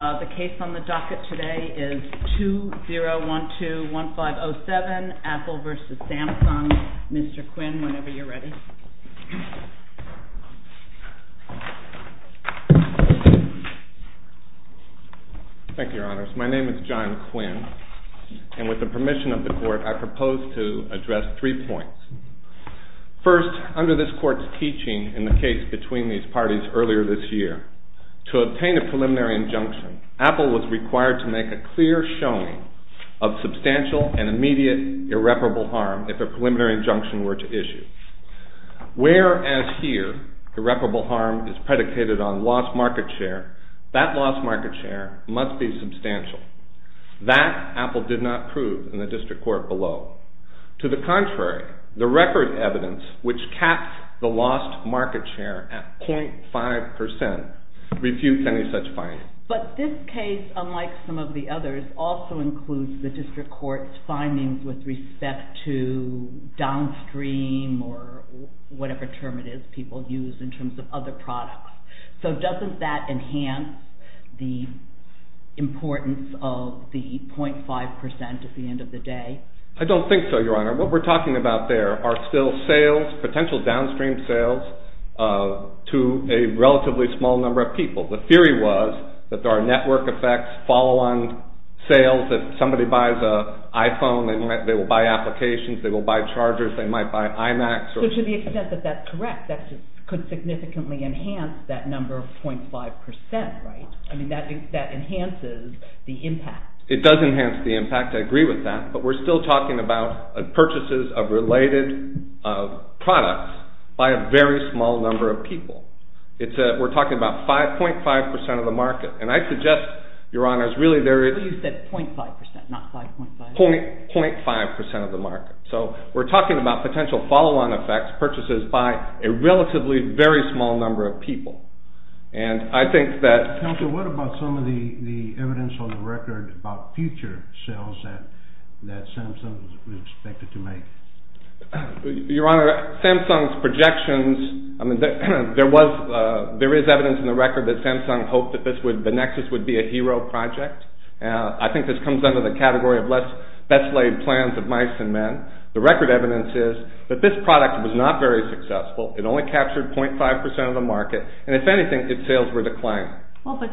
The case on the docket today is 2012-1507, Apple v. Samsung. Mr. Quinn, whenever you're ready. Thank you, Your Honors. My name is John Quinn, and with the permission of the Court, I propose to address three points. First, under this Court's teaching in the case between these parties earlier this year, to obtain a preliminary injunction, Apple was required to make a clear showing of substantial and immediate irreparable harm if a preliminary injunction were to issue. Whereas here, irreparable harm is predicated on lost market share, that lost market share must be substantial. That, Apple did not prove in the District Court below. To the contrary, the record evidence which caps the lost market share at 0.5% refutes any such findings. But this case, unlike some of the others, also includes the District Court's findings with respect to downstream or whatever term it is people use in terms of other products. So doesn't that enhance the importance of the 0.5% at the end of the day? I don't think so, Your Honor. What we're talking about there are still sales, potential downstream sales, to a relatively small number of people. The theory was that there are network effects, follow-on sales. If somebody buys an iPhone, they will buy applications, they will buy chargers, they might buy iMacs. So to the extent that that's correct, that could significantly enhance that number of 0.5%, right? I mean, that enhances the impact. It does enhance the impact, I agree with that. But we're still talking about purchases of related products by a very small number of people. We're talking about 5.5% of the market. And I suggest, Your Honors, really there is... You said 0.5%, not 5.5. 0.5% of the market. So we're talking about potential follow-on effects, purchases by a relatively very small number of people. And I think that... Counselor, what about some of the evidence on the record about future sales that Samsung is expected to make? Your Honor, Samsung's projections... I mean, there is evidence on the record that Samsung hoped that the Nexus would be a hero project. I think this comes under the category of best-laid plans of mice and men. The record evidence is that this product was not very successful. It only captured 0.5% of the market. And if anything, its sales were declined. Well, but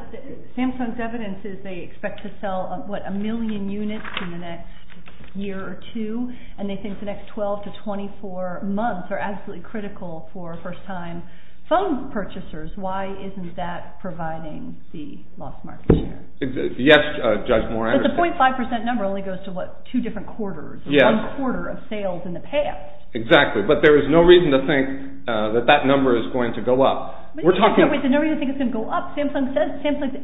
Samsung's evidence is they expect to sell, what, a million units in the next year or two. And they think the next 12 to 24 months are absolutely critical for first-time phone purchasers. Why isn't that providing the lost market share? Yes, Judge Moran. But the 0.5% number only goes to, what, two different quarters, or one quarter of sales in the past. Exactly. But there is no reason to think that that number is going to go up. No reason to think it's going to go up. Samsung's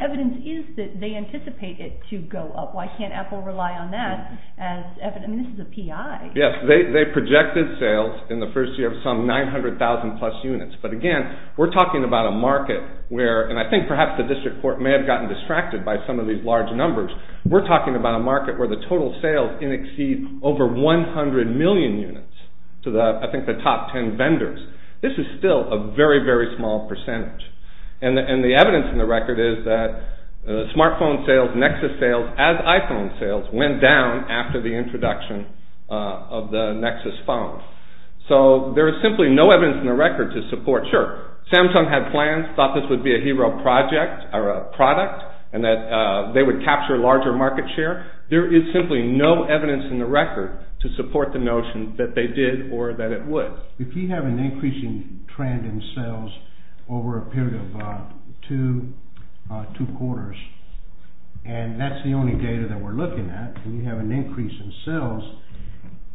evidence is that they anticipate it to go up. Why can't Apple rely on that as evidence? I mean, this is a P.I. Yes, they projected sales in the first year of some 900,000-plus units. But again, we're talking about a market where, and I think perhaps the district court may have gotten distracted by some of these large numbers. We're talking about a market where the total sales in exceed over 100 million units to the, I think, the top 10 vendors. This is still a very, very small percentage. And the evidence in the record is that smartphone sales, Nexus sales, as iPhone sales, went down after the introduction of the Nexus phones. So there is simply no evidence in the record to support. Sure, Samsung had plans, thought this would be a hero project or a product, and that they would capture larger market share. There is simply no evidence in the record to support the notion that they did or that it would. If you have an increasing trend in sales over a period of two quarters, and that's the only data that we're looking at, and you have an increase in sales,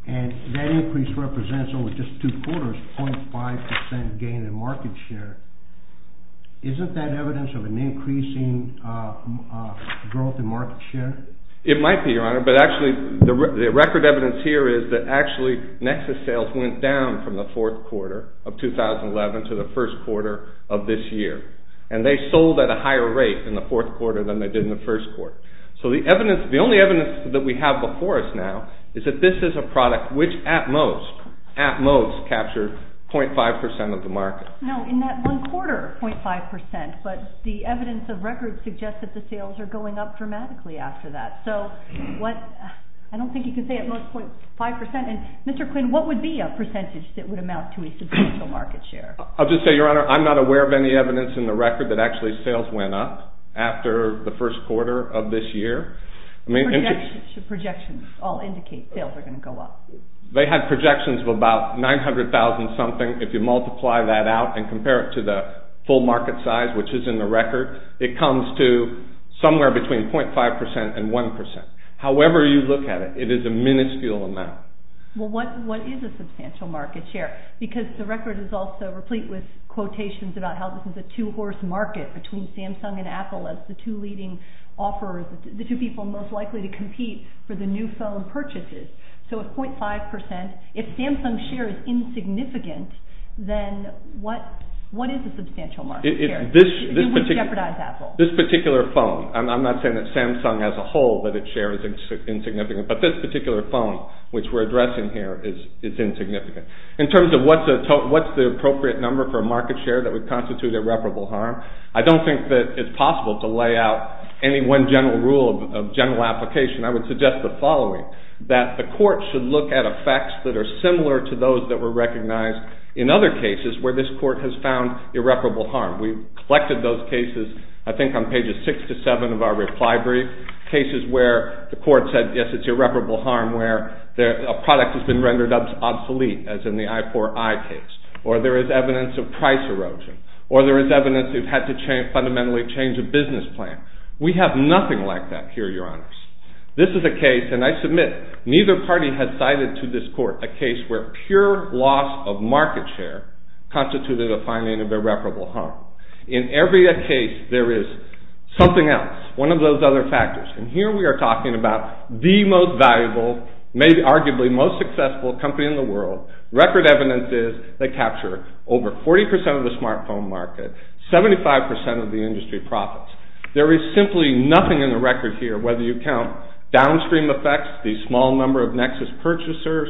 and that increase represents over just two quarters, 0.5% gain in market share, isn't that evidence of an increasing growth in market share? It might be, Your Honor, but actually the record evidence here is that actually Nexus sales went down from the fourth quarter of 2011 to the first quarter of this year. And they sold at a higher rate in the fourth quarter than they did in the first quarter. So the evidence, the only evidence that we have before us now is that this is a product which at most, at most, captured 0.5% of the market. No, in that one quarter, 0.5%, but the evidence of record suggests that the sales are going up dramatically after that. So what, I don't think you can say at most 0.5%, and Mr. Quinn, what would be a percentage that would amount to a substantial market share? I'll just say, Your Honor, I'm not aware of any evidence in the record that actually sales went up after the first quarter of this year. Projections all indicate sales are going to go up. They had projections of about 900,000-something. If you multiply that out and compare it to the full market size, which is in the record, it comes to somewhere between 0.5% and 1%. However you look at it, it is a minuscule amount. Well, what is a substantial market share? Because the record is also replete with quotations about how this is a two-horse market between Samsung and Apple as the two leading offers, the two people most likely to compete for the new phone purchases. So if 0.5%, if Samsung's share is insignificant, then what is a substantial market share? It would jeopardize Apple. This particular phone, I'm not saying that Samsung as a whole that its share is insignificant, but this particular phone, which we're addressing here, is insignificant. In terms of what's the appropriate number for a market share that would constitute irreparable harm, I don't think that it's possible to lay out any one general rule of general application. I would suggest the following, that the court should look at effects that are similar to those that were recognized in other cases where this court has found irreparable harm. We've collected those cases, I think on pages 6 to 7 of our reply brief, cases where the court said, yes, it's irreparable harm, where a product has been rendered obsolete, as in the i4i case. Or there is evidence of price erosion. Or there is evidence you've had to fundamentally change a business plan. We have nothing like that here, Your Honors. This is a case, and I submit, neither party has cited to this court a case where pure loss of market share constituted a finding of irreparable harm. In every case, there is something else, one of those other factors. And here we are talking about the most valuable, arguably most successful company in the world. Record evidence is they capture over 40% of the smartphone market, 75% of the industry profits. There is simply nothing in the record here, whether you count downstream effects, the small number of Nexus purchasers,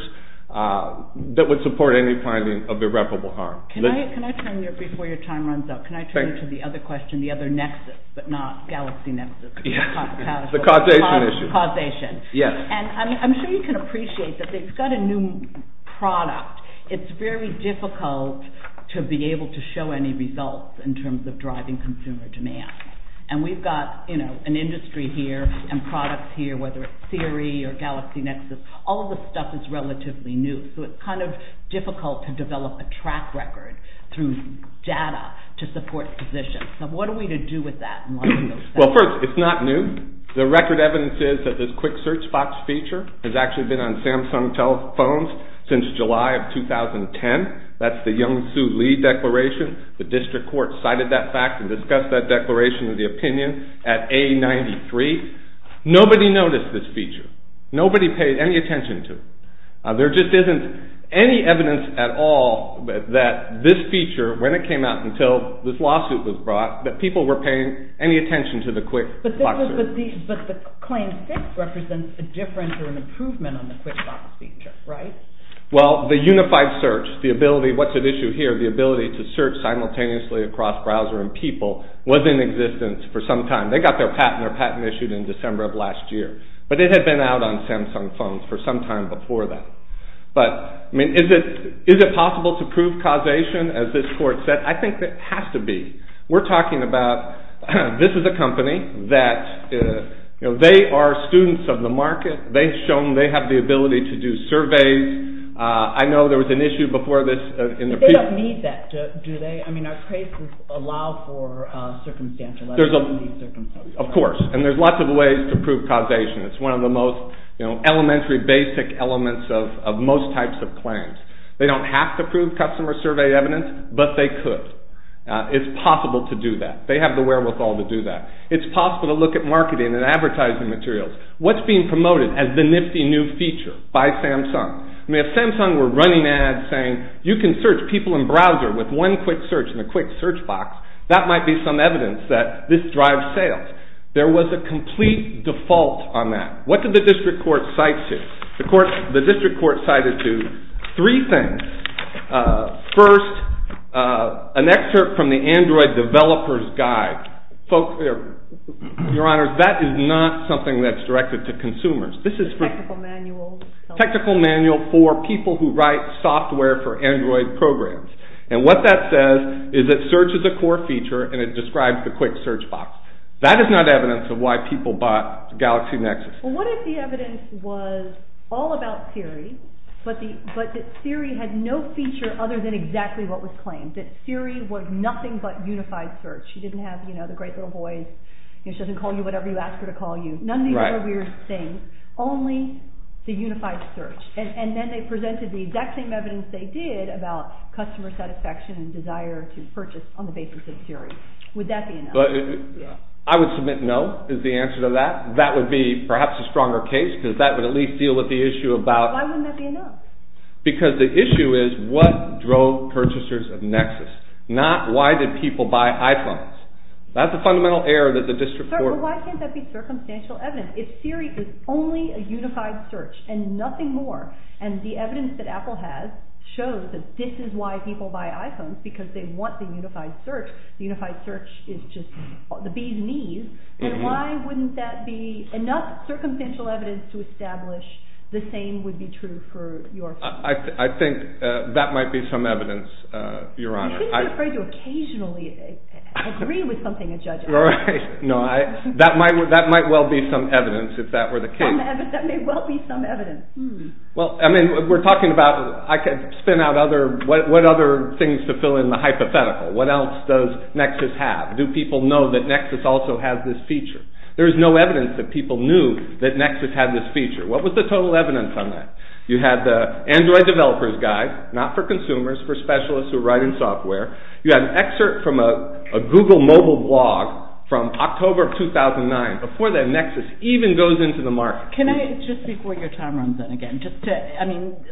that would support any finding of irreparable harm. Can I turn, before your time runs out, can I turn to the other question, the other Nexus, but not Galaxy Nexus? Yes, the causation issue. Causation. Yes. And I'm sure you can appreciate that they've got a new product. It's very difficult to be able to show any results in terms of driving consumer demand. And we've got an industry here and products here, whether it's Siri or Galaxy Nexus. All of this stuff is relatively new, so it's kind of difficult to develop a track record through data to support positions. So what are we to do with that? Well, first, it's not new. The record evidence is that this quick search box feature has actually been on Samsung telephones since July of 2010. That's the Young-Soo Lee declaration. The district court cited that fact and discussed that declaration in the opinion at A93. Nobody noticed this feature. Nobody paid any attention to it. There just isn't any evidence at all that this feature, when it came out until this lawsuit was brought, that people were paying any attention to the quick box feature. But the claim 6 represents a difference or an improvement on the quick box feature, right? Well, the unified search, the ability, what's at issue here, the ability to search simultaneously across browser and people was in existence for some time. They got their patent issued in December of last year. But it had been out on Samsung phones for some time before that. But, I mean, is it possible to prove causation? As this court said, I think it has to be. We're talking about, this is a company that, you know, they are students of the market. They've shown they have the ability to do surveys. I know there was an issue before this. They don't need that, do they? I mean, our cases allow for circumstantial evidence. Of course, and there's lots of ways to prove causation. It's one of the most, you know, elementary basic elements of most types of claims. They don't have to prove customer survey evidence, but they could. It's possible to do that. They have the wherewithal to do that. It's possible to look at marketing and advertising materials. What's being promoted as the nifty new feature by Samsung? I mean, if Samsung were running ads saying, you can search people in browser with one quick search in a quick search box, that might be some evidence that this drives sales. There was a complete default on that. What did the district court cite to? The district court cited to three things. First, an excerpt from the Android developer's guide. Folks, your honors, that is not something that's directed to consumers. This is for technical manual for people who write software for Android programs. And what that says is that search is a core feature and it describes the quick search box. That is not evidence of why people bought Galaxy Nexus. What if the evidence was all about Siri, but that Siri had no feature other than exactly what was claimed? That Siri was nothing but unified search. She didn't have the great little voice. She doesn't call you whatever you ask her to call you. None of these are weird things. Only the unified search. And then they presented the exact same evidence they did about customer satisfaction and desire to purchase on the basis of Siri. Would that be enough? I would submit no is the answer to that. That would be perhaps a stronger case because that would at least deal with the issue about... Why wouldn't that be enough? Because the issue is what drove purchasers of Nexus, not why did people buy iPhones. That's a fundamental error that the district court... Sir, why can't that be circumstantial evidence? If Siri was only a unified search and nothing more, and the evidence that Apple has shows that this is why people buy iPhones, because they want the unified search, the unified search is just the bee's knees, and why wouldn't that be enough circumstantial evidence to establish the same would be true for your case? I think that might be some evidence, Your Honor. I think you're afraid to occasionally agree with something a judge asks you. No, that might well be some evidence if that were the case. That may well be some evidence. Well, I mean, we're talking about... I could spin out other... What other things to fill in the hypothetical? What else does Nexus have? Do people know that Nexus also has this feature? There is no evidence that people knew that Nexus had this feature. What was the total evidence on that? You had the Android developer's guide, not for consumers, for specialists who write in software. You had an excerpt from a Google mobile blog from October of 2009. Before that, Nexus even goes into the market. Can I, just before your time runs out again, just to...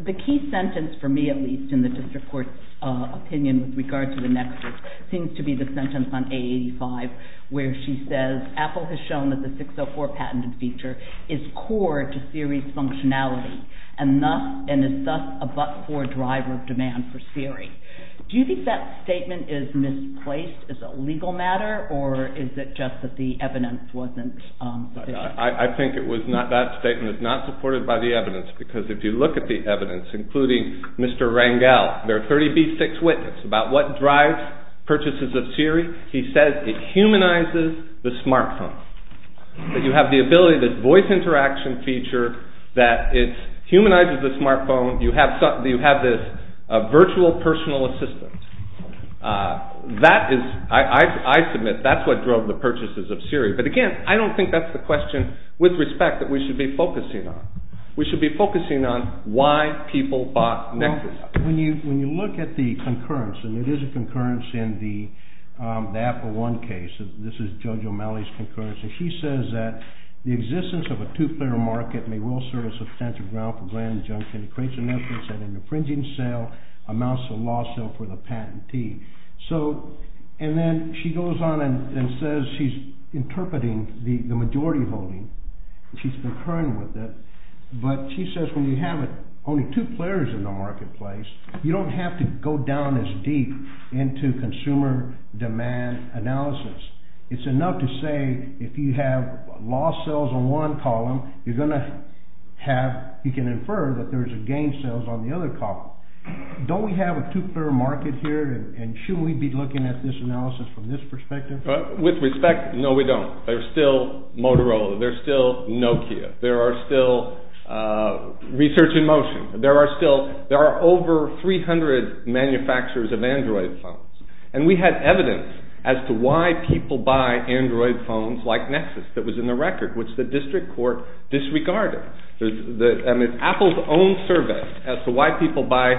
The key sentence, for me at least, in the district court's opinion with regard to the Nexus, seems to be the sentence on A85 where she says, Apple has shown that the 604 patented feature is core to Siri's functionality and is thus a but-for driver of demand for Siri. Do you think that statement is misplaced as a legal matter, or is it just that the evidence wasn't sufficient? I think that statement is not supported by the evidence because if you look at the evidence, including Mr. Rangel, their 30B6 witness, about what drives purchases of Siri, he says it humanizes the smartphone. That you have the ability, this voice interaction feature, that it humanizes the smartphone, you have this virtual personal assistant. That is, I submit, that's what drove the purchases of Siri. But again, I don't think that's the question, with respect, that we should be focusing on. We should be focusing on why people bought Nexus. When you look at the concurrence, and it is a concurrence in the Apple One case, this is Judge O'Malley's concurrence, and she says that the existence of a two-player market may well serve as substantive ground for grand injunction. It creates a nexus and an infringing sale amounts to a law sale for the patentee. And then she goes on and says she's interpreting the majority holding. She's concurring with it. But she says when you have only two players in the marketplace, you don't have to go down as deep into consumer demand analysis. It's enough to say if you have lost sales on one column, you're going to have, you can infer that there's a gain sales on the other column. Don't we have a two-player market here, and shouldn't we be looking at this analysis from this perspective? With respect, no we don't. There's still Motorola. There's still Nokia. There are still research in motion. There are still, there are over 300 manufacturers of Android phones. And we have evidence as to why people buy Android phones like Nexus that was in the record, which the district court disregarded. Apple's own survey as to why people buy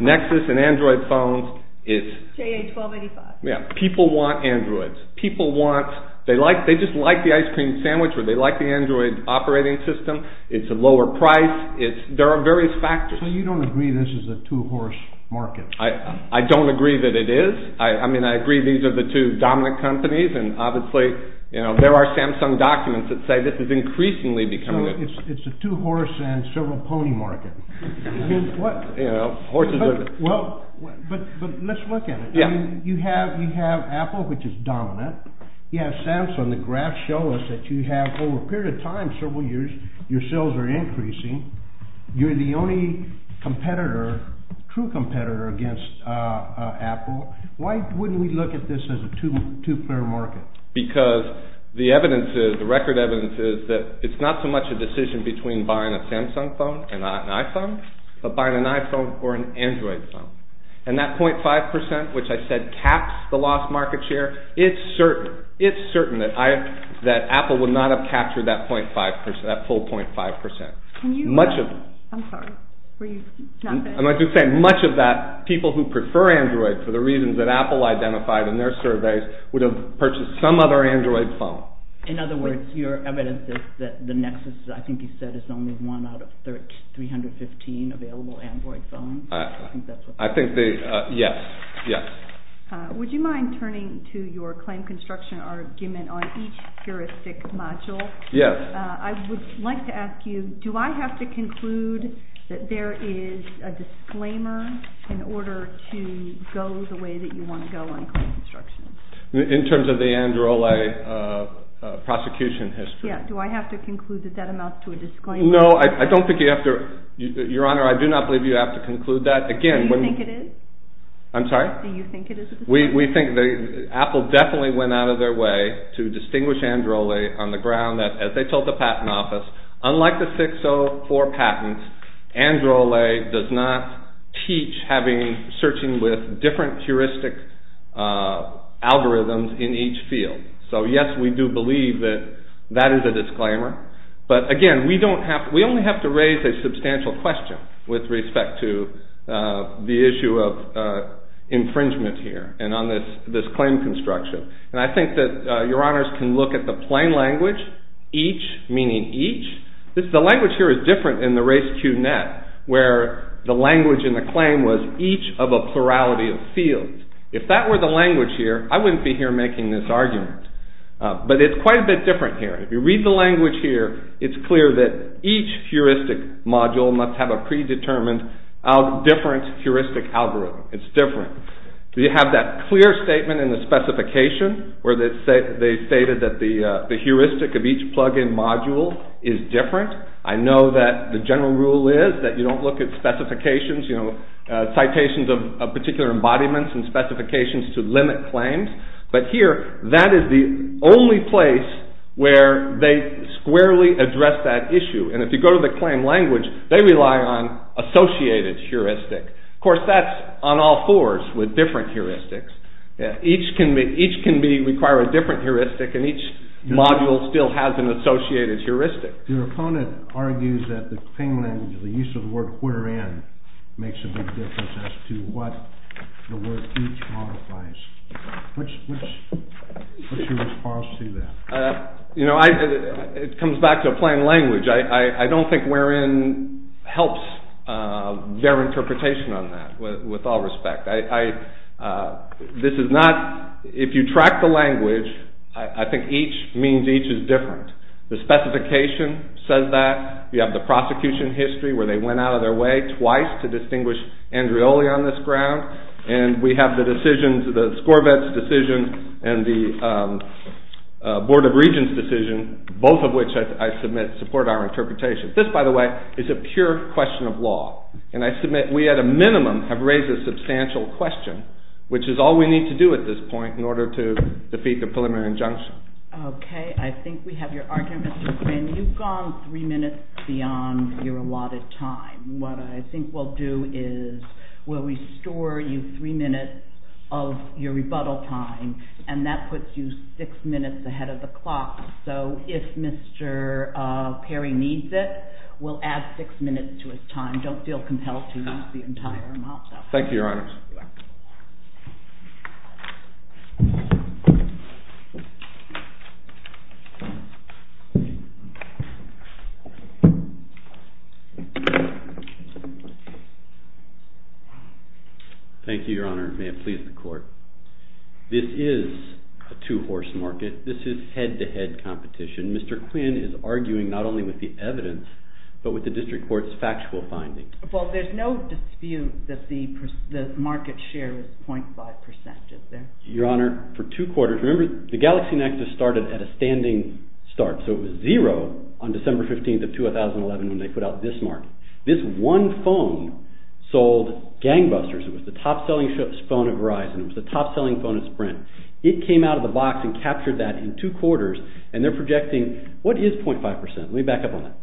Nexus and Android phones is, People want Androids. People want, they just like the ice cream sandwich, or they like the Android operating system. It's a lower price. There are various factors. So you don't agree this is a two-horse market? I don't agree that it is. I mean I agree these are the two dominant companies, and obviously there are Samsung documents that say this is increasingly becoming a, So it's a two-horse and several pony market. Well, but let's look at it. You have Apple, which is dominant. You have Samsung. The graphs show us that you have over a period of time, several years, your sales are increasing. You're the only competitor, true competitor against Apple. Why wouldn't we look at this as a two-player market? Because the evidence is, the record evidence is, that it's not so much a decision between buying a Samsung phone and an iPhone, but buying an iPhone or an Android phone. And that 0.5%, which I said caps the lost market share, it's certain that Apple would not have captured that 0.5%, that full 0.5%. Can you, I'm sorry, were you not there? I'm going to say much of that people who prefer Android for the reasons that Apple identified in their surveys would have purchased some other Android phone. In other words, your evidence is that the Nexus, I think you said, is only one out of 315 available Android phones. I think that's what they said. I think they, yes, yes. Would you mind turning to your claim construction argument on each heuristic module? Yes. I would like to ask you, do I have to conclude that there is a disclaimer in order to go the way that you want to go on claim construction? In terms of the Androle prosecution history. Yes, do I have to conclude that that amounts to a disclaimer? No, I don't think you have to. Your Honor, I do not believe you have to conclude that. Do you think it is? I'm sorry? Do you think it is a disclaimer? We think that Apple definitely went out of their way to distinguish Androle on the ground that, as they told the Patent Office, unlike the 604 patents, Androle does not teach searching with different heuristic algorithms in each field. So, yes, we do believe that that is a disclaimer. But, again, we only have to raise a substantial question with respect to the issue of infringement here and on this claim construction. And I think that Your Honors can look at the plain language, each meaning each. The language here is different in the Race QNet, where the language in the claim was each of a plurality of fields. If that were the language here, I wouldn't be here making this argument. But it's quite a bit different here. If you read the language here, it's clear that each heuristic module must have a predetermined different heuristic algorithm. It's different. Do you have that clear statement in the specification where they stated that the heuristic of each plug-in module is different? I know that the general rule is that you don't look at specifications, citations of particular embodiments and specifications to limit claims. But here, that is the only place where they squarely address that issue. And if you go to the claim language, they rely on associated heuristic. Of course, that's on all fours with different heuristics. Each can require a different heuristic, and each module still has an associated heuristic. Your opponent argues that the claim language, the use of the word wherein, makes a big difference as to what the word each modifies. What's your response to that? It comes back to a plain language. I don't think wherein helps their interpretation on that, with all respect. If you track the language, I think each means each is different. The specification says that. You have the prosecution history where they went out of their way twice to distinguish Andreoli on this ground. And we have the decisions, the SCORVETS decision and the Board of Regents decision, both of which I submit support our interpretation. This, by the way, is a pure question of law. And I submit we at a minimum have raised a substantial question, which is all we need to do at this point in order to defeat the preliminary injunction. Okay. I think we have your argument, Mr. Quinn. You've gone three minutes beyond your allotted time. What I think we'll do is we'll restore you three minutes of your rebuttal time, and that puts you six minutes ahead of the clock. So if Mr. Perry needs it, we'll add six minutes to his time. Don't feel compelled to use the entire amount. Thank you, Your Honors. You're welcome. Thank you. Thank you, Your Honor. May it please the Court. This is a two-horse market. This is head-to-head competition. Mr. Quinn is arguing not only with the evidence but with the district court's factual findings. Well, there's no dispute that the market share is 0.5 percent, is there? Your Honor, for two quarters. Remember, the Galaxy Nexus started at a standing start, so it was 0 on December 15th of 2011 when they put out this market. This one phone sold gangbusters. It was the top-selling phone at Verizon. It was the top-selling phone at Sprint. It came out of the box and captured that in two quarters, and they're projecting what is 0.5 percent? Let me back up on that.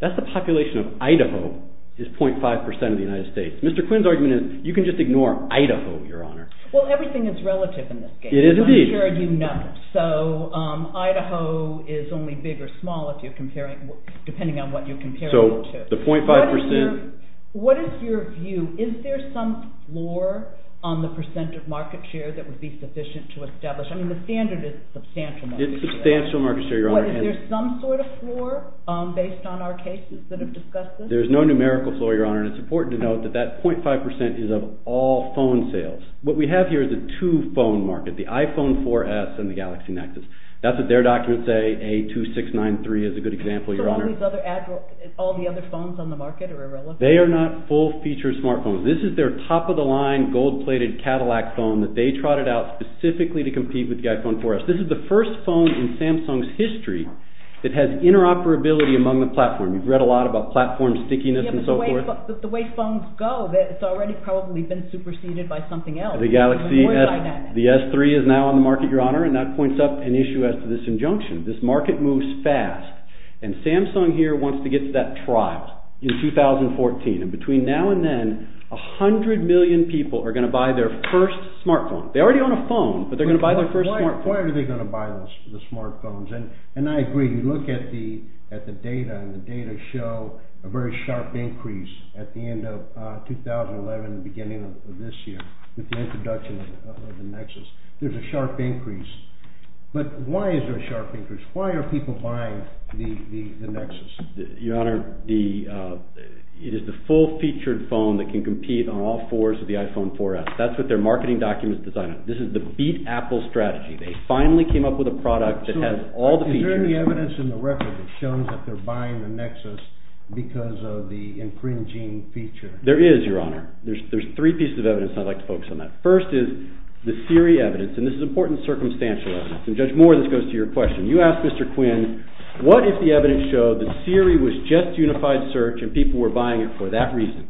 That's the population of Idaho is 0.5 percent of the United States. Mr. Quinn's argument is you can just ignore Idaho, Your Honor. Well, everything is relative in this case. It is indeed. I'm sure you know. So Idaho is only big or small depending on what you compare it to. So the 0.5 percent. What is your view? Is there some floor on the percent of market share that would be sufficient to establish? I mean, the standard is substantial market share. It's substantial market share, Your Honor. Is there some sort of floor based on our cases that have discussed this? There's no numerical floor, Your Honor, and it's important to note that that 0.5 percent is of all phone sales. What we have here is a two-phone market, the iPhone 4S and the Galaxy Nexus. That's what their documents say. A2693 is a good example, Your Honor. So all these other phones on the market are irrelevant? They are not full-featured smartphones. This is their top-of-the-line gold-plated Cadillac phone that they trotted out specifically to compete with the iPhone 4S. This is the first phone in Samsung's history that has interoperability among the platform. You've read a lot about platform stickiness and so forth. But the way phones go, it's already probably been superseded by something else. The Galaxy S3 is now on the market, Your Honor, and that points up an issue as to this injunction. This market moves fast, and Samsung here wants to get to that trial in 2014. And between now and then, 100 million people are going to buy their first smartphone. They already own a phone, but they're going to buy their first smartphone. Why are they going to buy the smartphones? And I agree. You look at the data, and the data show a very sharp increase at the end of 2011 and the beginning of this year with the introduction of the Nexus. There's a sharp increase. But why is there a sharp increase? Why are people buying the Nexus? Your Honor, it is the full-featured phone that can compete on all fours of the iPhone 4S. That's what their marketing documents design it. This is the beat Apple strategy. They finally came up with a product that has all the features. Is there any evidence in the record that shows that they're buying the Nexus because of the infringing feature? There is, Your Honor. There's three pieces of evidence, and I'd like to focus on that. First is the Siri evidence, and this is important circumstantial evidence. And Judge Moore, this goes to your question. You asked Mr. Quinn, what if the evidence showed that Siri was just unified search and people were buying it for that reason?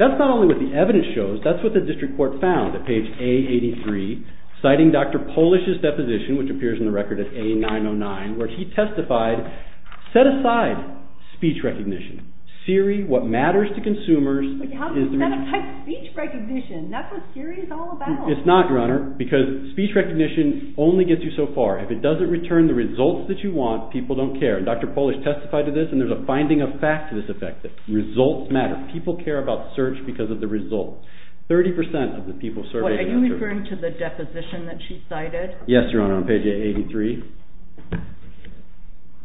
That's not only what the evidence shows. That's what the district court found at page A83, citing Dr. Polish's deposition, which appears in the record at A909, where he testified, set aside speech recognition. Siri, what matters to consumers is the… But how do you set aside speech recognition? That's what Siri is all about. It's not, Your Honor, because speech recognition only gets you so far. If it doesn't return the results that you want, people don't care. And Dr. Polish testified to this, and there's a finding of fact to this effect, that results matter. People care about search because of the results. 30% of the people surveyed… Are you referring to the deposition that she cited? Yes, Your Honor, on page A83.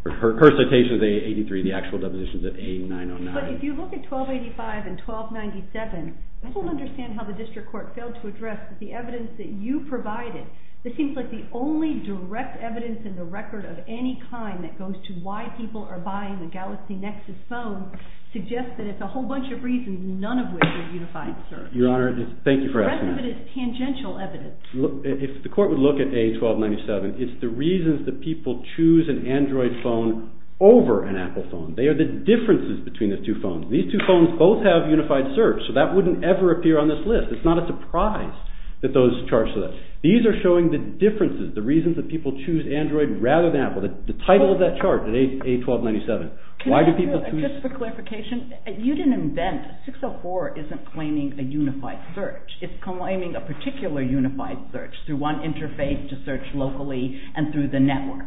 Her citation is A83. The actual deposition is at A909. But if you look at 1285 and 1297, people understand how the district court failed to address the evidence that you provided. It seems like the only direct evidence in the record of any kind that goes to why people are buying the Galaxy Nexus phone suggests that it's a whole bunch of reasons, none of which are unified search. Your Honor, thank you for asking. The rest of it is tangential evidence. If the court would look at A1297, it's the reasons that people choose an Android phone over an Apple phone. They are the differences between the two phones. These two phones both have unified search, so that wouldn't ever appear on this list. It's not a surprise that those charts are there. The title of that chart, A1297, why do people choose… Just for clarification, you didn't invent… 604 isn't claiming a unified search. It's claiming a particular unified search through one interface to search locally and through the network.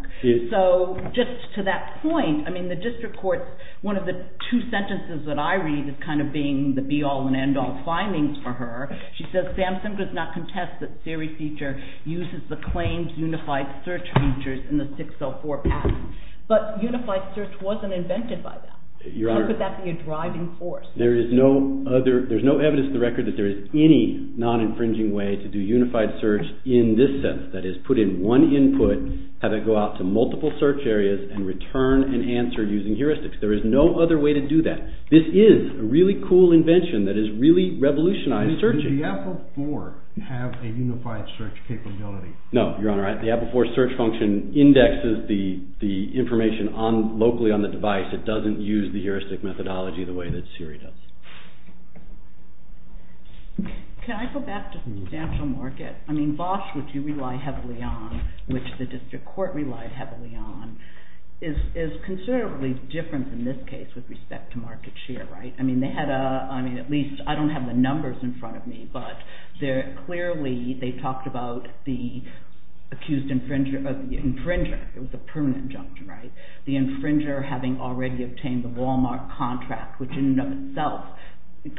So just to that point, I mean, the district court, one of the two sentences that I read is kind of being the be-all and end-all findings for her. She says Samsung does not contest that Siri feature uses the claimed unified search features in the 604 pattern. But unified search wasn't invented by them. How could that be a driving force? There is no evidence to the record that there is any non-infringing way to do unified search in this sense, that is, put in one input, have it go out to multiple search areas, and return an answer using heuristics. There is no other way to do that. This is a really cool invention that has really revolutionized searching. Does the Apple 4 have a unified search capability? No, Your Honor. The Apple 4 search function indexes the information locally on the device. It doesn't use the heuristic methodology the way that Siri does. Can I go back to substantial market? I mean, Bosch, which you rely heavily on, which the district court relied heavily on, is considerably different in this case with respect to market share, right? I mean, at least, I don't have the numbers in front of me, but clearly they talked about the accused infringer, it was a permanent injunction, right? The infringer having already obtained the Walmart contract, which in and of itself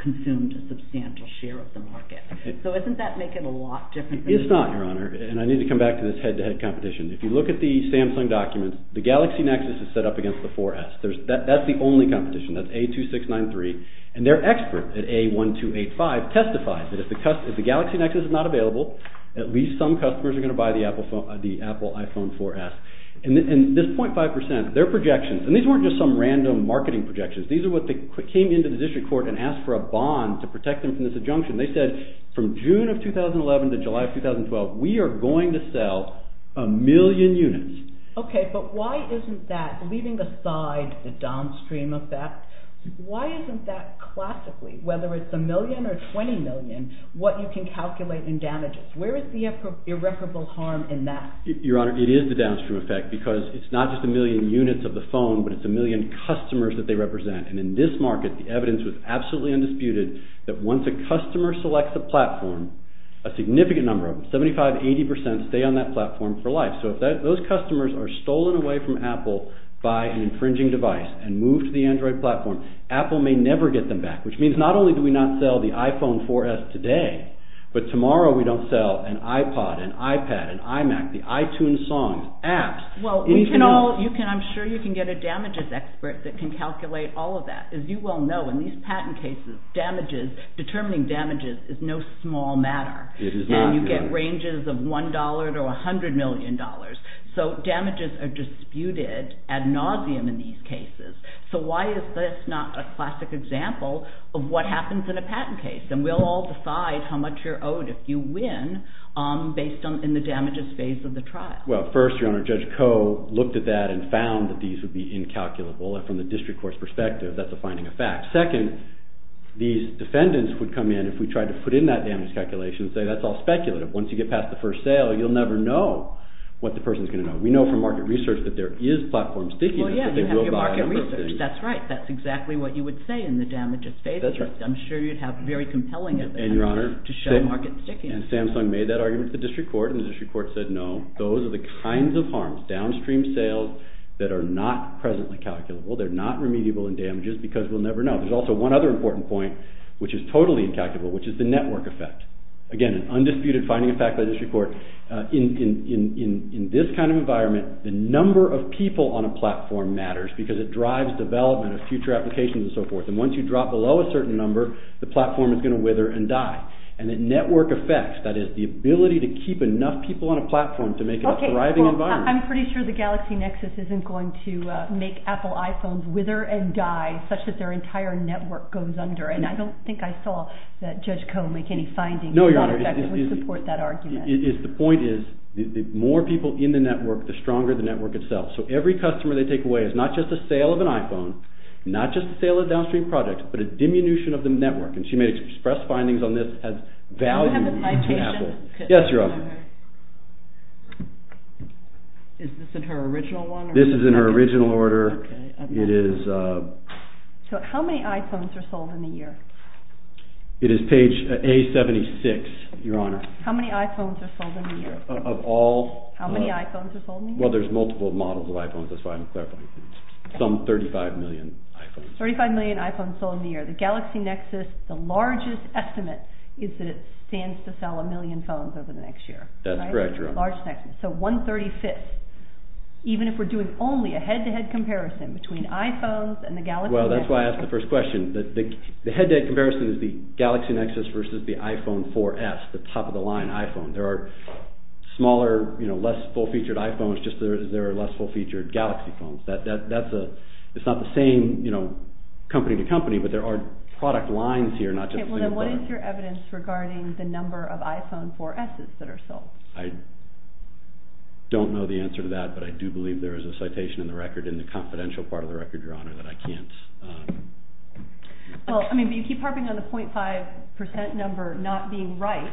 consumed a substantial share of the market. So doesn't that make it a lot different? It's not, Your Honor. And I need to come back to this head-to-head competition. If you look at the Samsung documents, the Galaxy Nexus is set up against the 4S. That's the only competition. That's A2693. And their expert at A1285 testifies that if the Galaxy Nexus is not available, at least some customers are going to buy the Apple iPhone 4S. And this .5%, their projections, and these weren't just some random marketing projections. These are what came into the district court and asked for a bond to protect them from this injunction. They said from June of 2011 to July of 2012, we are going to sell a million units. Okay, but why isn't that, leaving aside the downstream effect, why isn't that classically, whether it's a million or 20 million, what you can calculate in damages? Where is the irreparable harm in that? Your Honor, it is the downstream effect because it's not just a million units of the phone, but it's a million customers that they represent. And in this market, the evidence was absolutely undisputed that once a customer selects a platform, a significant number of them, 75%, 80% stay on that platform for life. So if those customers are stolen away from Apple by an infringing device and moved to the Android platform, Apple may never get them back, which means not only do we not sell the iPhone 4S today, but tomorrow we don't sell an iPod, an iPad, an iMac, the iTunes songs, apps. Well, I'm sure you can get a damages expert that can calculate all of that. As you well know, in these patent cases, determining damages is no small matter. You get ranges of $1 to $100 million. So damages are disputed ad nauseum in these cases. So why is this not a classic example of what happens in a patent case? And we'll all decide how much you're owed if you win based on the damages phase of the trial. Well, first, Your Honor, Judge Koh looked at that and found that these would be incalculable. And from the district court's perspective, that's a finding of fact. Second, these defendants would come in if we tried to put in that damage calculation and say that's all speculative. Once you get past the first sale, you'll never know what the person's going to know. We know from market research that there is platform stickiness, but they will buy a number of things. Well, yeah, you have your market research. That's right. That's exactly what you would say in the damages phase. That's right. I'm sure you'd have very compelling evidence to show market stickiness. And Samsung made that argument to the district court, and the district court said no. Those are the kinds of harms, downstream sales, that are not presently calculable. They're not remediable in damages because we'll never know. There's also one other important point which is totally incalculable, which is the network effect. Again, an undisputed finding of fact by the district court. In this kind of environment, the number of people on a platform matters because it drives development of future applications and so forth. And once you drop below a certain number, the platform is going to wither and die. And the network effect, that is the ability to keep enough people on a platform to make it a thriving environment. Okay, well, I'm pretty sure the Galaxy Nexus isn't going to make Apple iPhones wither and die, such that their entire network goes under. And I don't think I saw that Judge Koh make any findings that would support that argument. No, Your Honor, the point is the more people in the network, the stronger the network itself. So every customer they take away is not just a sale of an iPhone, not just a sale of downstream products, but a diminution of the network. And she may express findings on this as value to Apple. Do you have the citation? Yes, Your Honor. Is this in her original one? This is in her original order. So how many iPhones are sold in a year? It is page A76, Your Honor. How many iPhones are sold in a year? Of all? How many iPhones are sold in a year? Well, there's multiple models of iPhones, that's why I'm clarifying. Some 35 million iPhones. 35 million iPhones sold in a year. The Galaxy Nexus, the largest estimate is that it stands to sell a million phones over the next year. That's correct, Your Honor. So one-thirty-fifth, even if we're doing only a head-to-head comparison between iPhones and the Galaxy Nexus. Well, that's why I asked the first question. The head-to-head comparison is the Galaxy Nexus versus the iPhone 4S, the top-of-the-line iPhone. There are smaller, less full-featured iPhones, just there are less full-featured Galaxy phones. It's not the same company-to-company, but there are product lines here. Okay, well then what is your evidence regarding the number of iPhone 4Ss that are sold? I don't know the answer to that, but I do believe there is a citation in the confidential part of the record, Your Honor, that I can't... Well, I mean, but you keep harping on the 0.5% number not being right,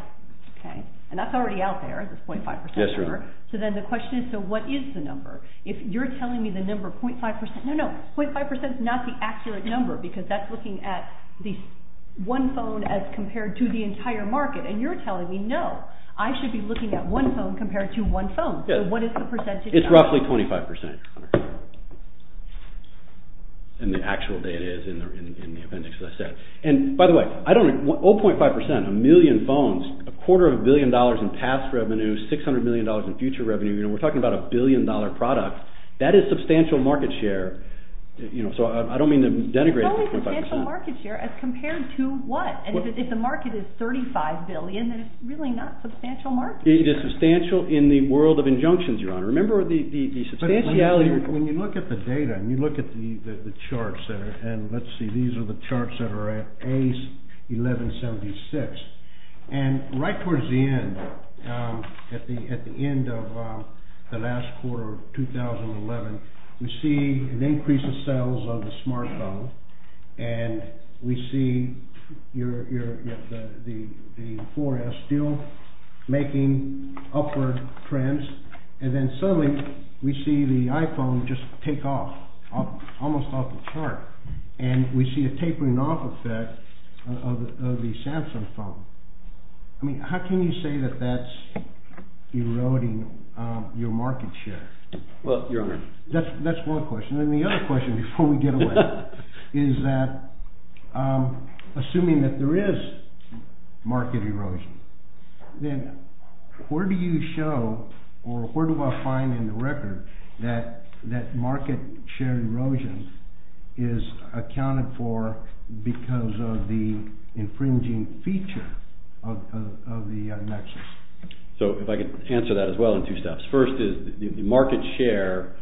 okay? And that's already out there, this 0.5% number. Yes, Your Honor. So then the question is, so what is the number? If you're telling me the number 0.5%... No, no, 0.5% is not the accurate number, because that's looking at one phone as compared to the entire market. And you're telling me, no, I should be looking at one phone compared to one phone. So what is the percentage? It's roughly 25%, Your Honor. And the actual data is in the appendix, as I said. And, by the way, I don't... 0.5%, a million phones, a quarter of a billion dollars in past revenue, $600 million in future revenue. We're talking about a billion-dollar product. That is substantial market share. So I don't mean to denigrate 0.5%. It's only substantial market share as compared to what? And if the market is $35 billion, then it's really not substantial market share. It is substantial in the world of injunctions, Your Honor. Remember the substantiality... But when you look at the data and you look at the charts that are... And let's see, these are the charts that are at A1176. And right towards the end, at the end of the last quarter of 2011, we see an increase in sales of the smartphone. And we see the 4S still making upward trends. And then suddenly we see the iPhone just take off, almost off the chart. And we see a tapering off effect of the Samsung phone. I mean, how can you say that that's eroding your market share? Well, Your Honor... That's one question. And the other question before we get away is that assuming that there is market erosion, then where do you show or where do I find in the record that market share erosion is accounted for because of the infringing feature of the Nexus? So if I could answer that as well in two steps. First is the market share,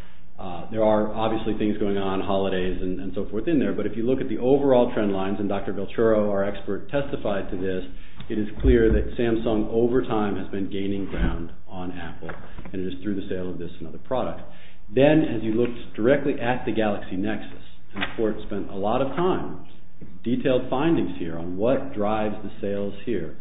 there are obviously things going on, holidays and so forth in there. But if you look at the overall trend lines, and Dr. Velturo, our expert, testified to this, it is clear that Samsung, over time, has been gaining ground on Apple. And it is through the sale of this and other products. Then, as you looked directly at the Galaxy Nexus, the court spent a lot of time, detailed findings here on what drives the sales here.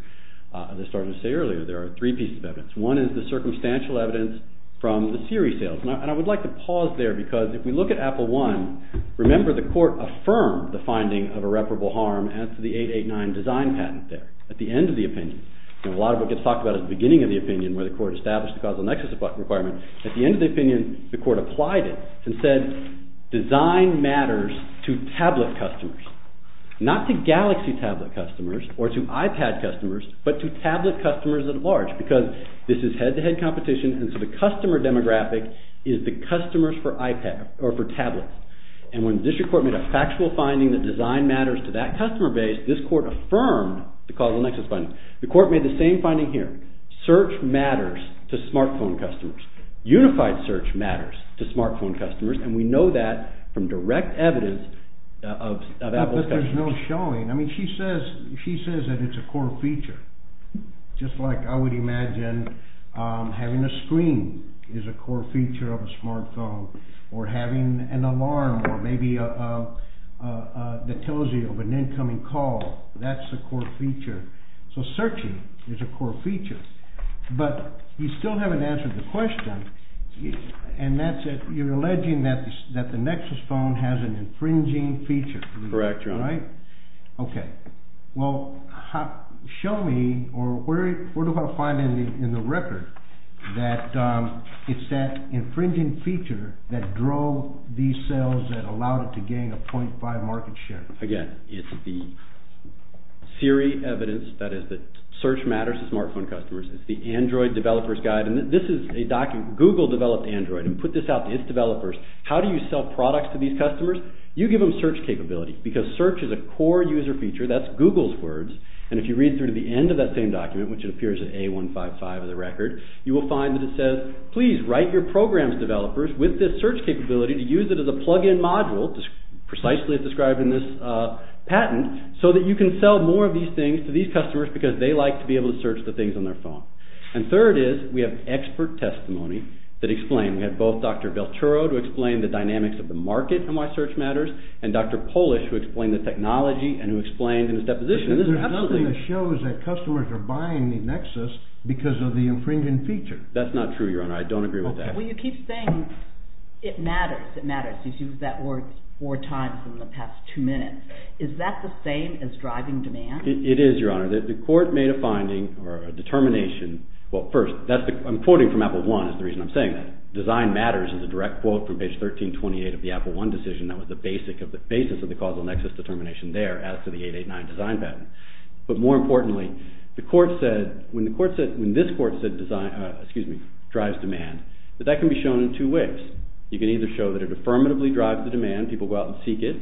As I started to say earlier, there are three pieces of evidence. One is the circumstantial evidence from the Siri sales. And I would like to pause there because if we look at Apple I, remember the court affirmed the finding of irreparable harm as to the 889 design patent there. At the end of the opinion, a lot of what gets talked about at the beginning of the opinion where the court established the causal Nexus requirement, at the end of the opinion, the court applied it and said, design matters to tablet customers, not to Galaxy tablet customers or to iPad customers, but to tablet customers at large because this is head-to-head competition and so the customer demographic is the customers for tablets. And when the district court made a factual finding that design matters to that customer base, this court affirmed the causal Nexus finding. The court made the same finding here. Search matters to smartphone customers. Unified search matters to smartphone customers. And we know that from direct evidence of Apple's customers. But there's no showing. I mean, she says that it's a core feature. Just like I would imagine having a screen is a core feature of a smartphone or having an alarm or maybe that tells you of an incoming call. That's a core feature. So searching is a core feature. But you still haven't answered the question, and you're alleging that the Nexus phone has an infringing feature. Correct. All right. Okay. Well, show me or where do I find in the record that it's that infringing feature that drove these sales that allowed it to gain a 0.5 market share? Again, it's the theory evidence that is that search matters to smartphone customers. It's the Android developer's guide. And this is a document. Google developed Android and put this out to its developers. How do you sell products to these customers? You give them search capability because search is a core user feature. That's Google's words. And if you read through to the end of that same document, which it appears at A155 of the record, you will find that it says, please write your program's developers with this search capability to use it as a plug-in module, precisely as described in this patent, so that you can sell more of these things to these customers because they like to be able to search the things on their phone. And third is we have expert testimony that explain. We have both Dr. Belturo to explain the dynamics of the market and why search matters, and Dr. Polish who explained the technology and who explained in his deposition. There's nothing that shows that customers are buying the Nexus because of the infringing feature. That's not true, Your Honor. I don't agree with that. Well, you keep saying it matters. It matters. You've used that word four times in the past two minutes. Is that the same as driving demand? It is, Your Honor. The court made a finding or a determination. Well, first, I'm quoting from Apple I is the reason I'm saying that. Design matters is a direct quote from page 1328 of the Apple I decision that was the basis of the causal Nexus determination there as to the 889 design patent. But more importantly, when this court said drives demand, that that can be shown in two ways. You can either show that it affirmatively drives the demand, people go out and seek it,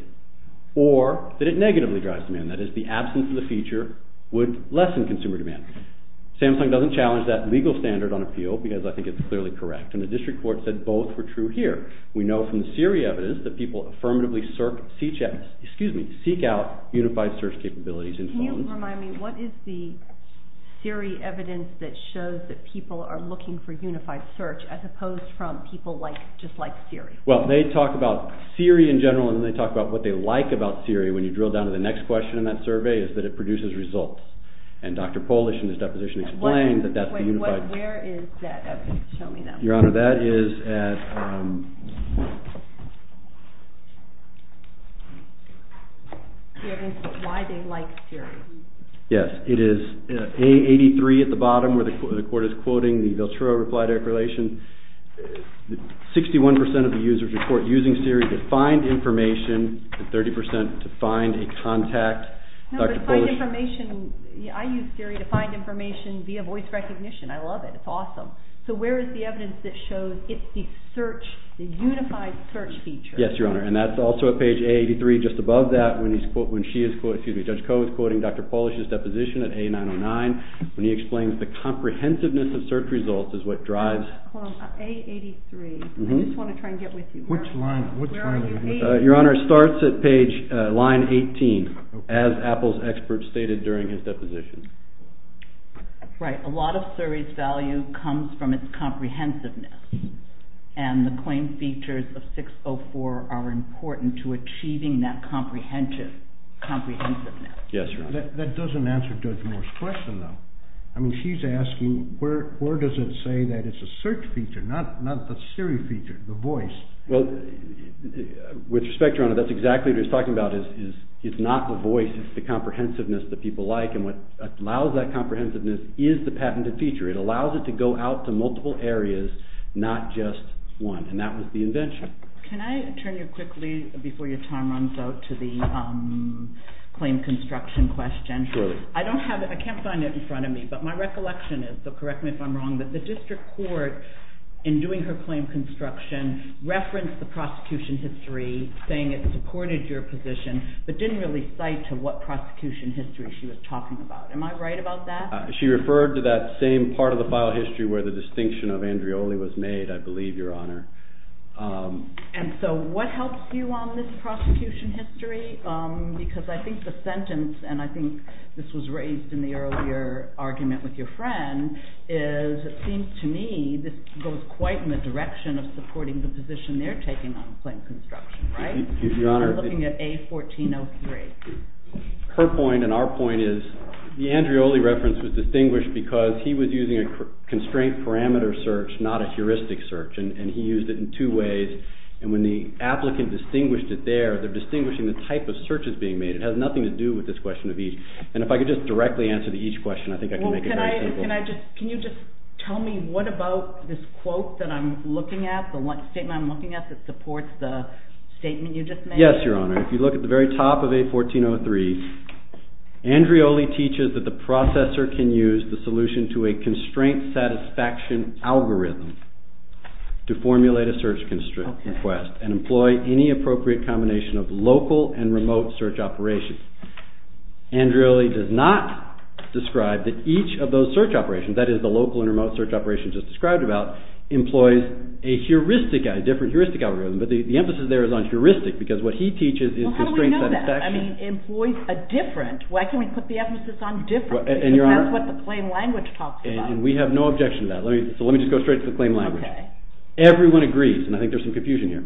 or that it negatively drives demand. That is, the absence of the feature would lessen consumer demand. Samsung doesn't challenge that legal standard on appeal because I think it's clearly correct, and the district court said both were true here. We know from the Siri evidence that people affirmatively seek out unified search capabilities in phones. Can you remind me, what is the Siri evidence that shows that people are looking for unified search as opposed from people just like Siri? Well, they talk about Siri in general, and then they talk about what they like about Siri. When you drill down to the next question in that survey, it's that it produces results. And Dr. Polish in his deposition explains that that's the unified search. Where is that evidence? Show me that. Your Honor, that is at... The evidence of why they like Siri. Yes, it is A83 at the bottom where the court is quoting the Veltura reply declaration. 61% of the users report using Siri to find information, and 30% to find a contact. No, but find information. I use Siri to find information via voice recognition. I love it. It's awesome. So where is the evidence that shows it's the search, the unified search feature? Yes, Your Honor, and that's also at page A83. Just above that, when she is quoting, excuse me, Judge Koh is quoting Dr. Polish's deposition at A909 when he explains the comprehensiveness of search results is what drives... A83. I just want to try and get with you. Which line? Your Honor, it starts at page line 18, as Apple's experts stated during his deposition. Right, a lot of Siri's value comes from its comprehensiveness, and the claim features of 604 are important to achieving that comprehensiveness. Yes, Your Honor. That doesn't answer Judge Moore's question, though. I mean, she's asking where does it say that it's a search feature, not the Siri feature, the voice? Well, with respect, Your Honor, that's exactly what he's talking about. It's not the voice, it's the comprehensiveness that people like and what allows that comprehensiveness is the patented feature. It allows it to go out to multiple areas, not just one, and that was the invention. Can I turn you quickly, before your time runs out, to the claim construction question? Surely. I don't have it, I can't find it in front of me, but my recollection is, so correct me if I'm wrong, that the district court, in doing her claim construction, referenced the prosecution history, saying it supported your position, but didn't really cite to what prosecution history she was talking about. Am I right about that? She referred to that same part of the file history where the distinction of Andreoli was made, I believe, Your Honor. And so what helps you on this prosecution history? Because I think the sentence, and I think this was raised in the earlier argument with your friend, is it seems to me this goes quite in the direction of supporting the position they're taking on claim construction, right? I'm looking at A1403. Her point, and our point, is the Andreoli reference was distinguished because he was using a constraint parameter search, not a heuristic search, and he used it in two ways. And when the applicant distinguished it there, they're distinguishing the type of searches being made. It has nothing to do with this question of each. And if I could just directly answer to each question, I think I can make it very simple. Can you just tell me what about this quote that I'm looking at, that supports the statement you just made? Yes, Your Honor. If you look at the very top of A1403, Andreoli teaches that the processor can use the solution to a constraint satisfaction algorithm to formulate a search request and employ any appropriate combination of local and remote search operations. Andreoli does not describe that each of those search operations, that is, the local and remote search operations just described about, employs a different heuristic algorithm, but the emphasis there is on heuristic because what he teaches is constraint satisfaction. Well, how do we know that? I mean, employs a different. Why can't we put the emphasis on different? That's what the claim language talks about. And we have no objection to that, so let me just go straight to the claim language. Everyone agrees, and I think there's some confusion here.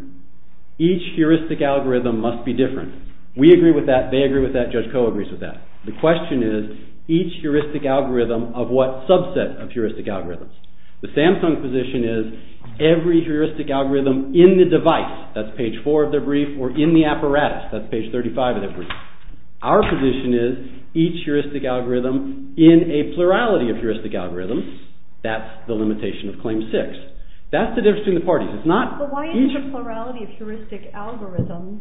Each heuristic algorithm must be different. We agree with that, they agree with that, Judge Koh agrees with that. The question is, each heuristic algorithm, of what subset of heuristic algorithms? The Samsung position is, every heuristic algorithm in the device, that's page 4 of their brief, or in the apparatus, that's page 35 of their brief. Our position is, each heuristic algorithm in a plurality of heuristic algorithms, that's the limitation of Claim 6. That's the difference between the parties. But why isn't the plurality of heuristic algorithms,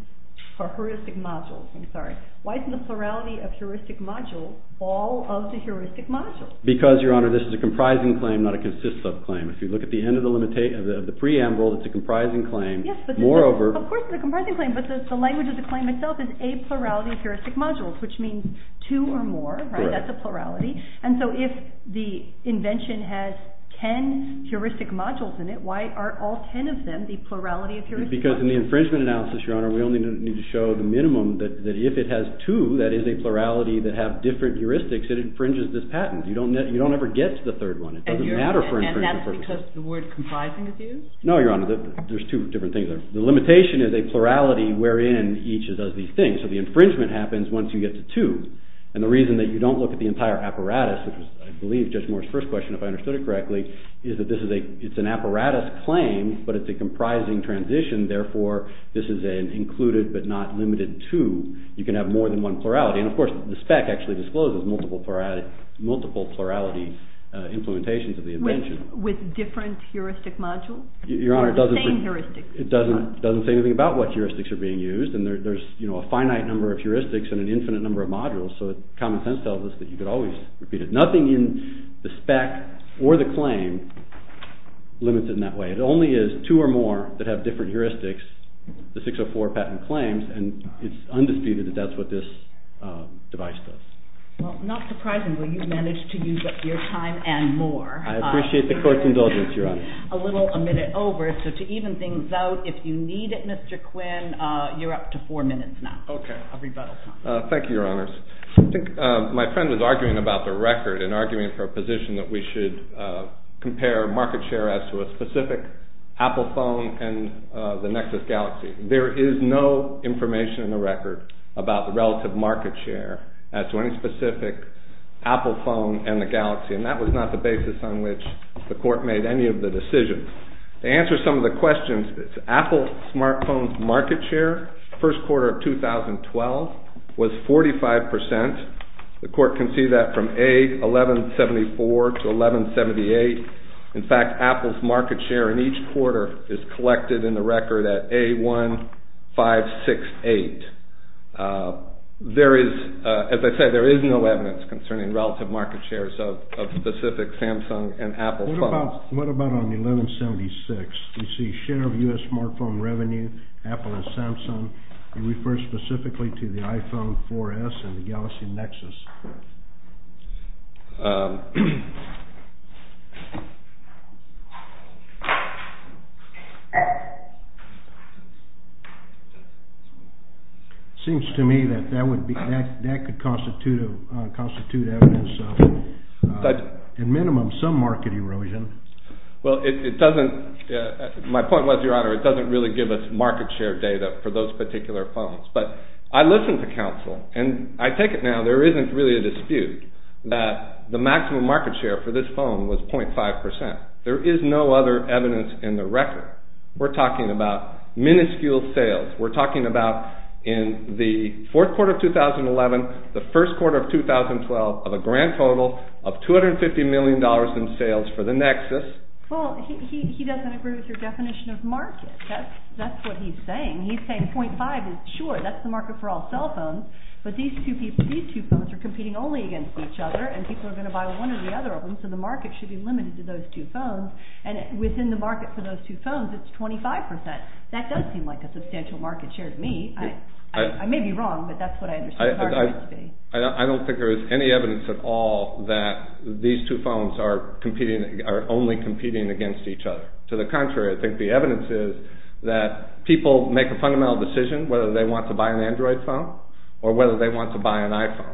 or heuristic modules, I'm sorry, why isn't the plurality of heuristic modules all of the heuristic modules? Because, Your Honor, this is a comprising claim, not a consist-of claim. If you look at the end of the preamble, it's a comprising claim. Yes, of course it's a comprising claim, but the language of the claim itself is a plurality of heuristic modules, which means two or more, that's a plurality. And so if the invention has ten heuristic modules in it, why aren't all ten of them the plurality of heuristic modules? Because in the infringement analysis, Your Honor, we only need to show the minimum that if it has two, that is a plurality that have different heuristics, it infringes this patent. You don't ever get to the third one. It doesn't matter for infringement purposes. And that's because the word comprising is used? No, Your Honor, there's two different things there. The limitation is a plurality wherein each does these things. So the infringement happens once you get to two. And the reason that you don't look at the entire apparatus, which was, I believe, Judge Moore's first question, if I understood it correctly, is that it's an apparatus claim, but it's a comprising transition, therefore this is an included but not limited to. You can have more than one plurality. And, of course, the spec actually discloses multiple plurality implementations of the invention. With different heuristic modules? Your Honor, it doesn't say anything about what heuristics are being used. And there's a finite number of heuristics and an infinite number of modules, so common sense tells us that you could always repeat it. Nothing in the spec or the claim limits it in that way. It only is two or more that have different heuristics, the 604 patent claims, and it's undisputed that that's what this device does. Well, not surprisingly, you've managed to use up your time and more. I appreciate the court's indulgence, Your Honor. A little a minute over, so to even things out, if you need it, Mr. Quinn, you're up to four minutes now. Okay. A rebuttal time. Thank you, Your Honors. I think my friend was arguing about the record and arguing for a position that we should compare market share as to a specific Apple phone and the Nexus Galaxy. There is no information in the record about the relative market share as to any specific Apple phone and the Galaxy, and that was not the basis on which the court made any of the decisions. To answer some of the questions, Apple smartphone's market share first quarter of 2012 was 45%. The court can see that from A1174 to 1178. In fact, Apple's market share in each quarter is collected in the record at A1568. As I said, there is no evidence concerning relative market shares of specific Samsung and Apple phones. What about on 1176? You see share of U.S. smartphone revenue, Apple and Samsung. You refer specifically to the iPhone 4S and the Galaxy Nexus. It seems to me that that could constitute evidence of, at minimum, some market erosion. My point was, Your Honor, it doesn't really give us market share data for those particular phones, but I listened to counsel, and I take it now there isn't really a dispute that the maximum market share for this phone was 0.5%. There is no other evidence in the record. We're talking about minuscule sales. We're talking about in the fourth quarter of 2011, the first quarter of 2012 of a grand total of $250 million in sales for the Nexus. Well, he doesn't agree with your definition of market. That's what he's saying. He's saying 0.5% is, sure, that's the market for all cell phones, but these two phones are competing only against each other, and people are going to buy one or the other of them, so the market should be limited to those two phones, and within the market for those two phones, it's 25%. That does seem like a substantial market share to me. I may be wrong, but that's what I understand the argument to be. I don't think there is any evidence at all that these two phones are only competing against each other. To the contrary, I think the evidence is that people make a fundamental decision whether they want to buy an Android phone or whether they want to buy an iPhone.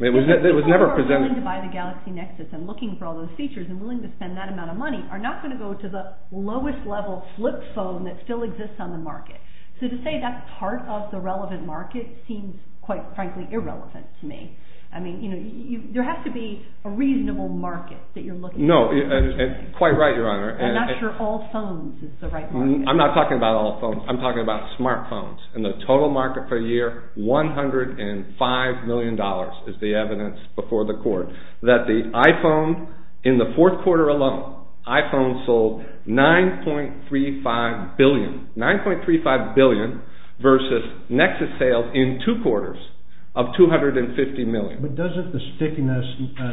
People who are willing to buy the Galaxy Nexus and looking for all those features and willing to spend that amount of money are not going to go to the lowest level flip phone that still exists on the market. So to say that's part of the relevant market seems quite frankly irrelevant to me. I mean, there has to be a reasonable market that you're looking for. No, quite right, Your Honor. I'm not sure all phones is the right market. I'm not talking about all phones. I'm talking about smartphones. In the total market per year, $105 million is the evidence before the court that the iPhone in the fourth quarter alone, iPhone sold $9.35 billion, $9.35 billion versus Nexus sales in two quarters of $250 million. But doesn't the stickiness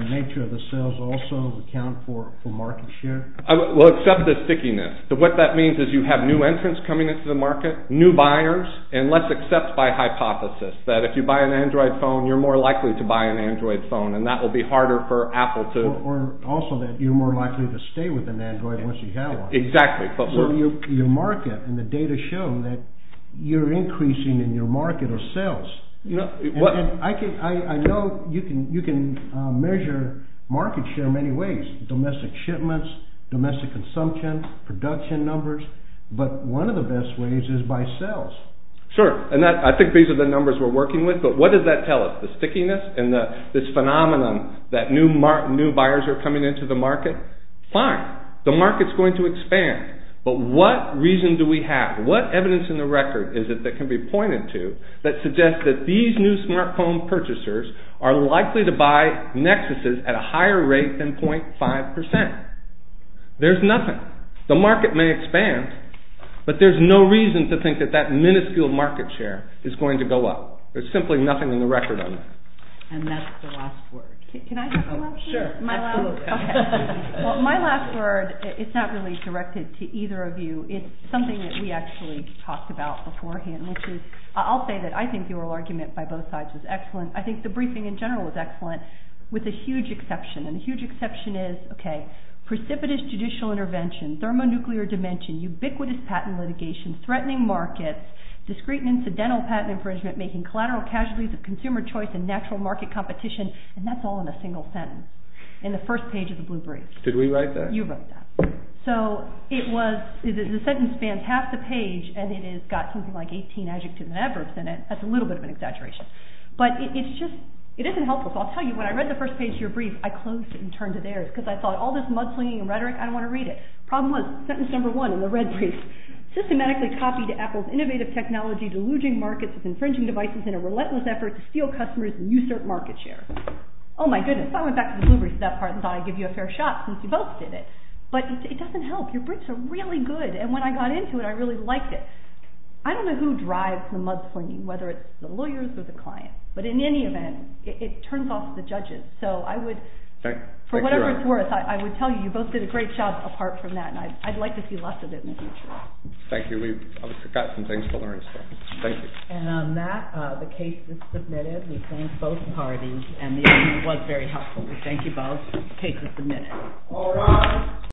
nature of the sales also account for market share? Well, except the stickiness. What that means is you have new entrants coming into the market, new buyers, and let's accept by hypothesis that if you buy an Android phone, you're more likely to buy an Android phone, and that will be harder for Apple to… Or also that you're more likely to stay with an Android once you have one. Exactly. So your market and the data show that you're increasing in your market of sales. I know you can measure market share in many ways, domestic shipments, domestic consumption, production numbers, but one of the best ways is by sales. Sure, and I think these are the numbers we're working with, but what does that tell us, the stickiness and this phenomenon that new buyers are coming into the market? Fine, the market's going to expand, but what reason do we have, what evidence in the record is it that can be pointed to that suggests that these new smartphone purchasers are likely to buy Nexuses at a higher rate than 0.5%? There's nothing. The market may expand, but there's no reason to think that that minuscule market share is going to go up. There's simply nothing in the record on that. And that's the last word. Can I have the last word? Sure, absolutely. Well, my last word, it's not really directed to either of you. It's something that we actually talked about beforehand, which is I'll say that I think the oral argument by both sides is excellent. I think the briefing in general is excellent with a huge exception, and the huge exception is, okay, precipitous judicial intervention, thermonuclear dimension, ubiquitous patent litigation, threatening markets, discreet and incidental patent infringement, making collateral casualties of consumer choice and natural market competition, and that's all in a single sentence in the first page of the Blue Brief. Did we write that? You wrote that. So it was, the sentence spans half the page, and it has got something like 18 adjectives and adverbs in it. That's a little bit of an exaggeration. But it's just, it isn't helpful. So I'll tell you, when I read the first page of your brief, I closed it and turned to theirs, because I thought, all this mudslinging and rhetoric, I don't want to read it. Problem was, sentence number one in the red brief, systematically copied Apple's innovative technology deluding markets with infringing devices in a relentless effort to steal customers' and usurp market share. Oh, my goodness, I went back to the Blue Brief for that part and thought I'd give you a fair shot since you both did it. But it doesn't help. Your briefs are really good, and when I got into it, I really liked it. I don't know who drives the mudslinging, whether it's the lawyers or the client, but in any event, it turns off the judges. So I would, for whatever it's worth, I would tell you, you both did a great job apart from that, and I'd like to see less of it in the future. Thank you. We've got some things to learn still. Thank you. And on that, the case is submitted. We thank both parties, and the evidence was very helpful. We thank you both. The case is submitted. All rise.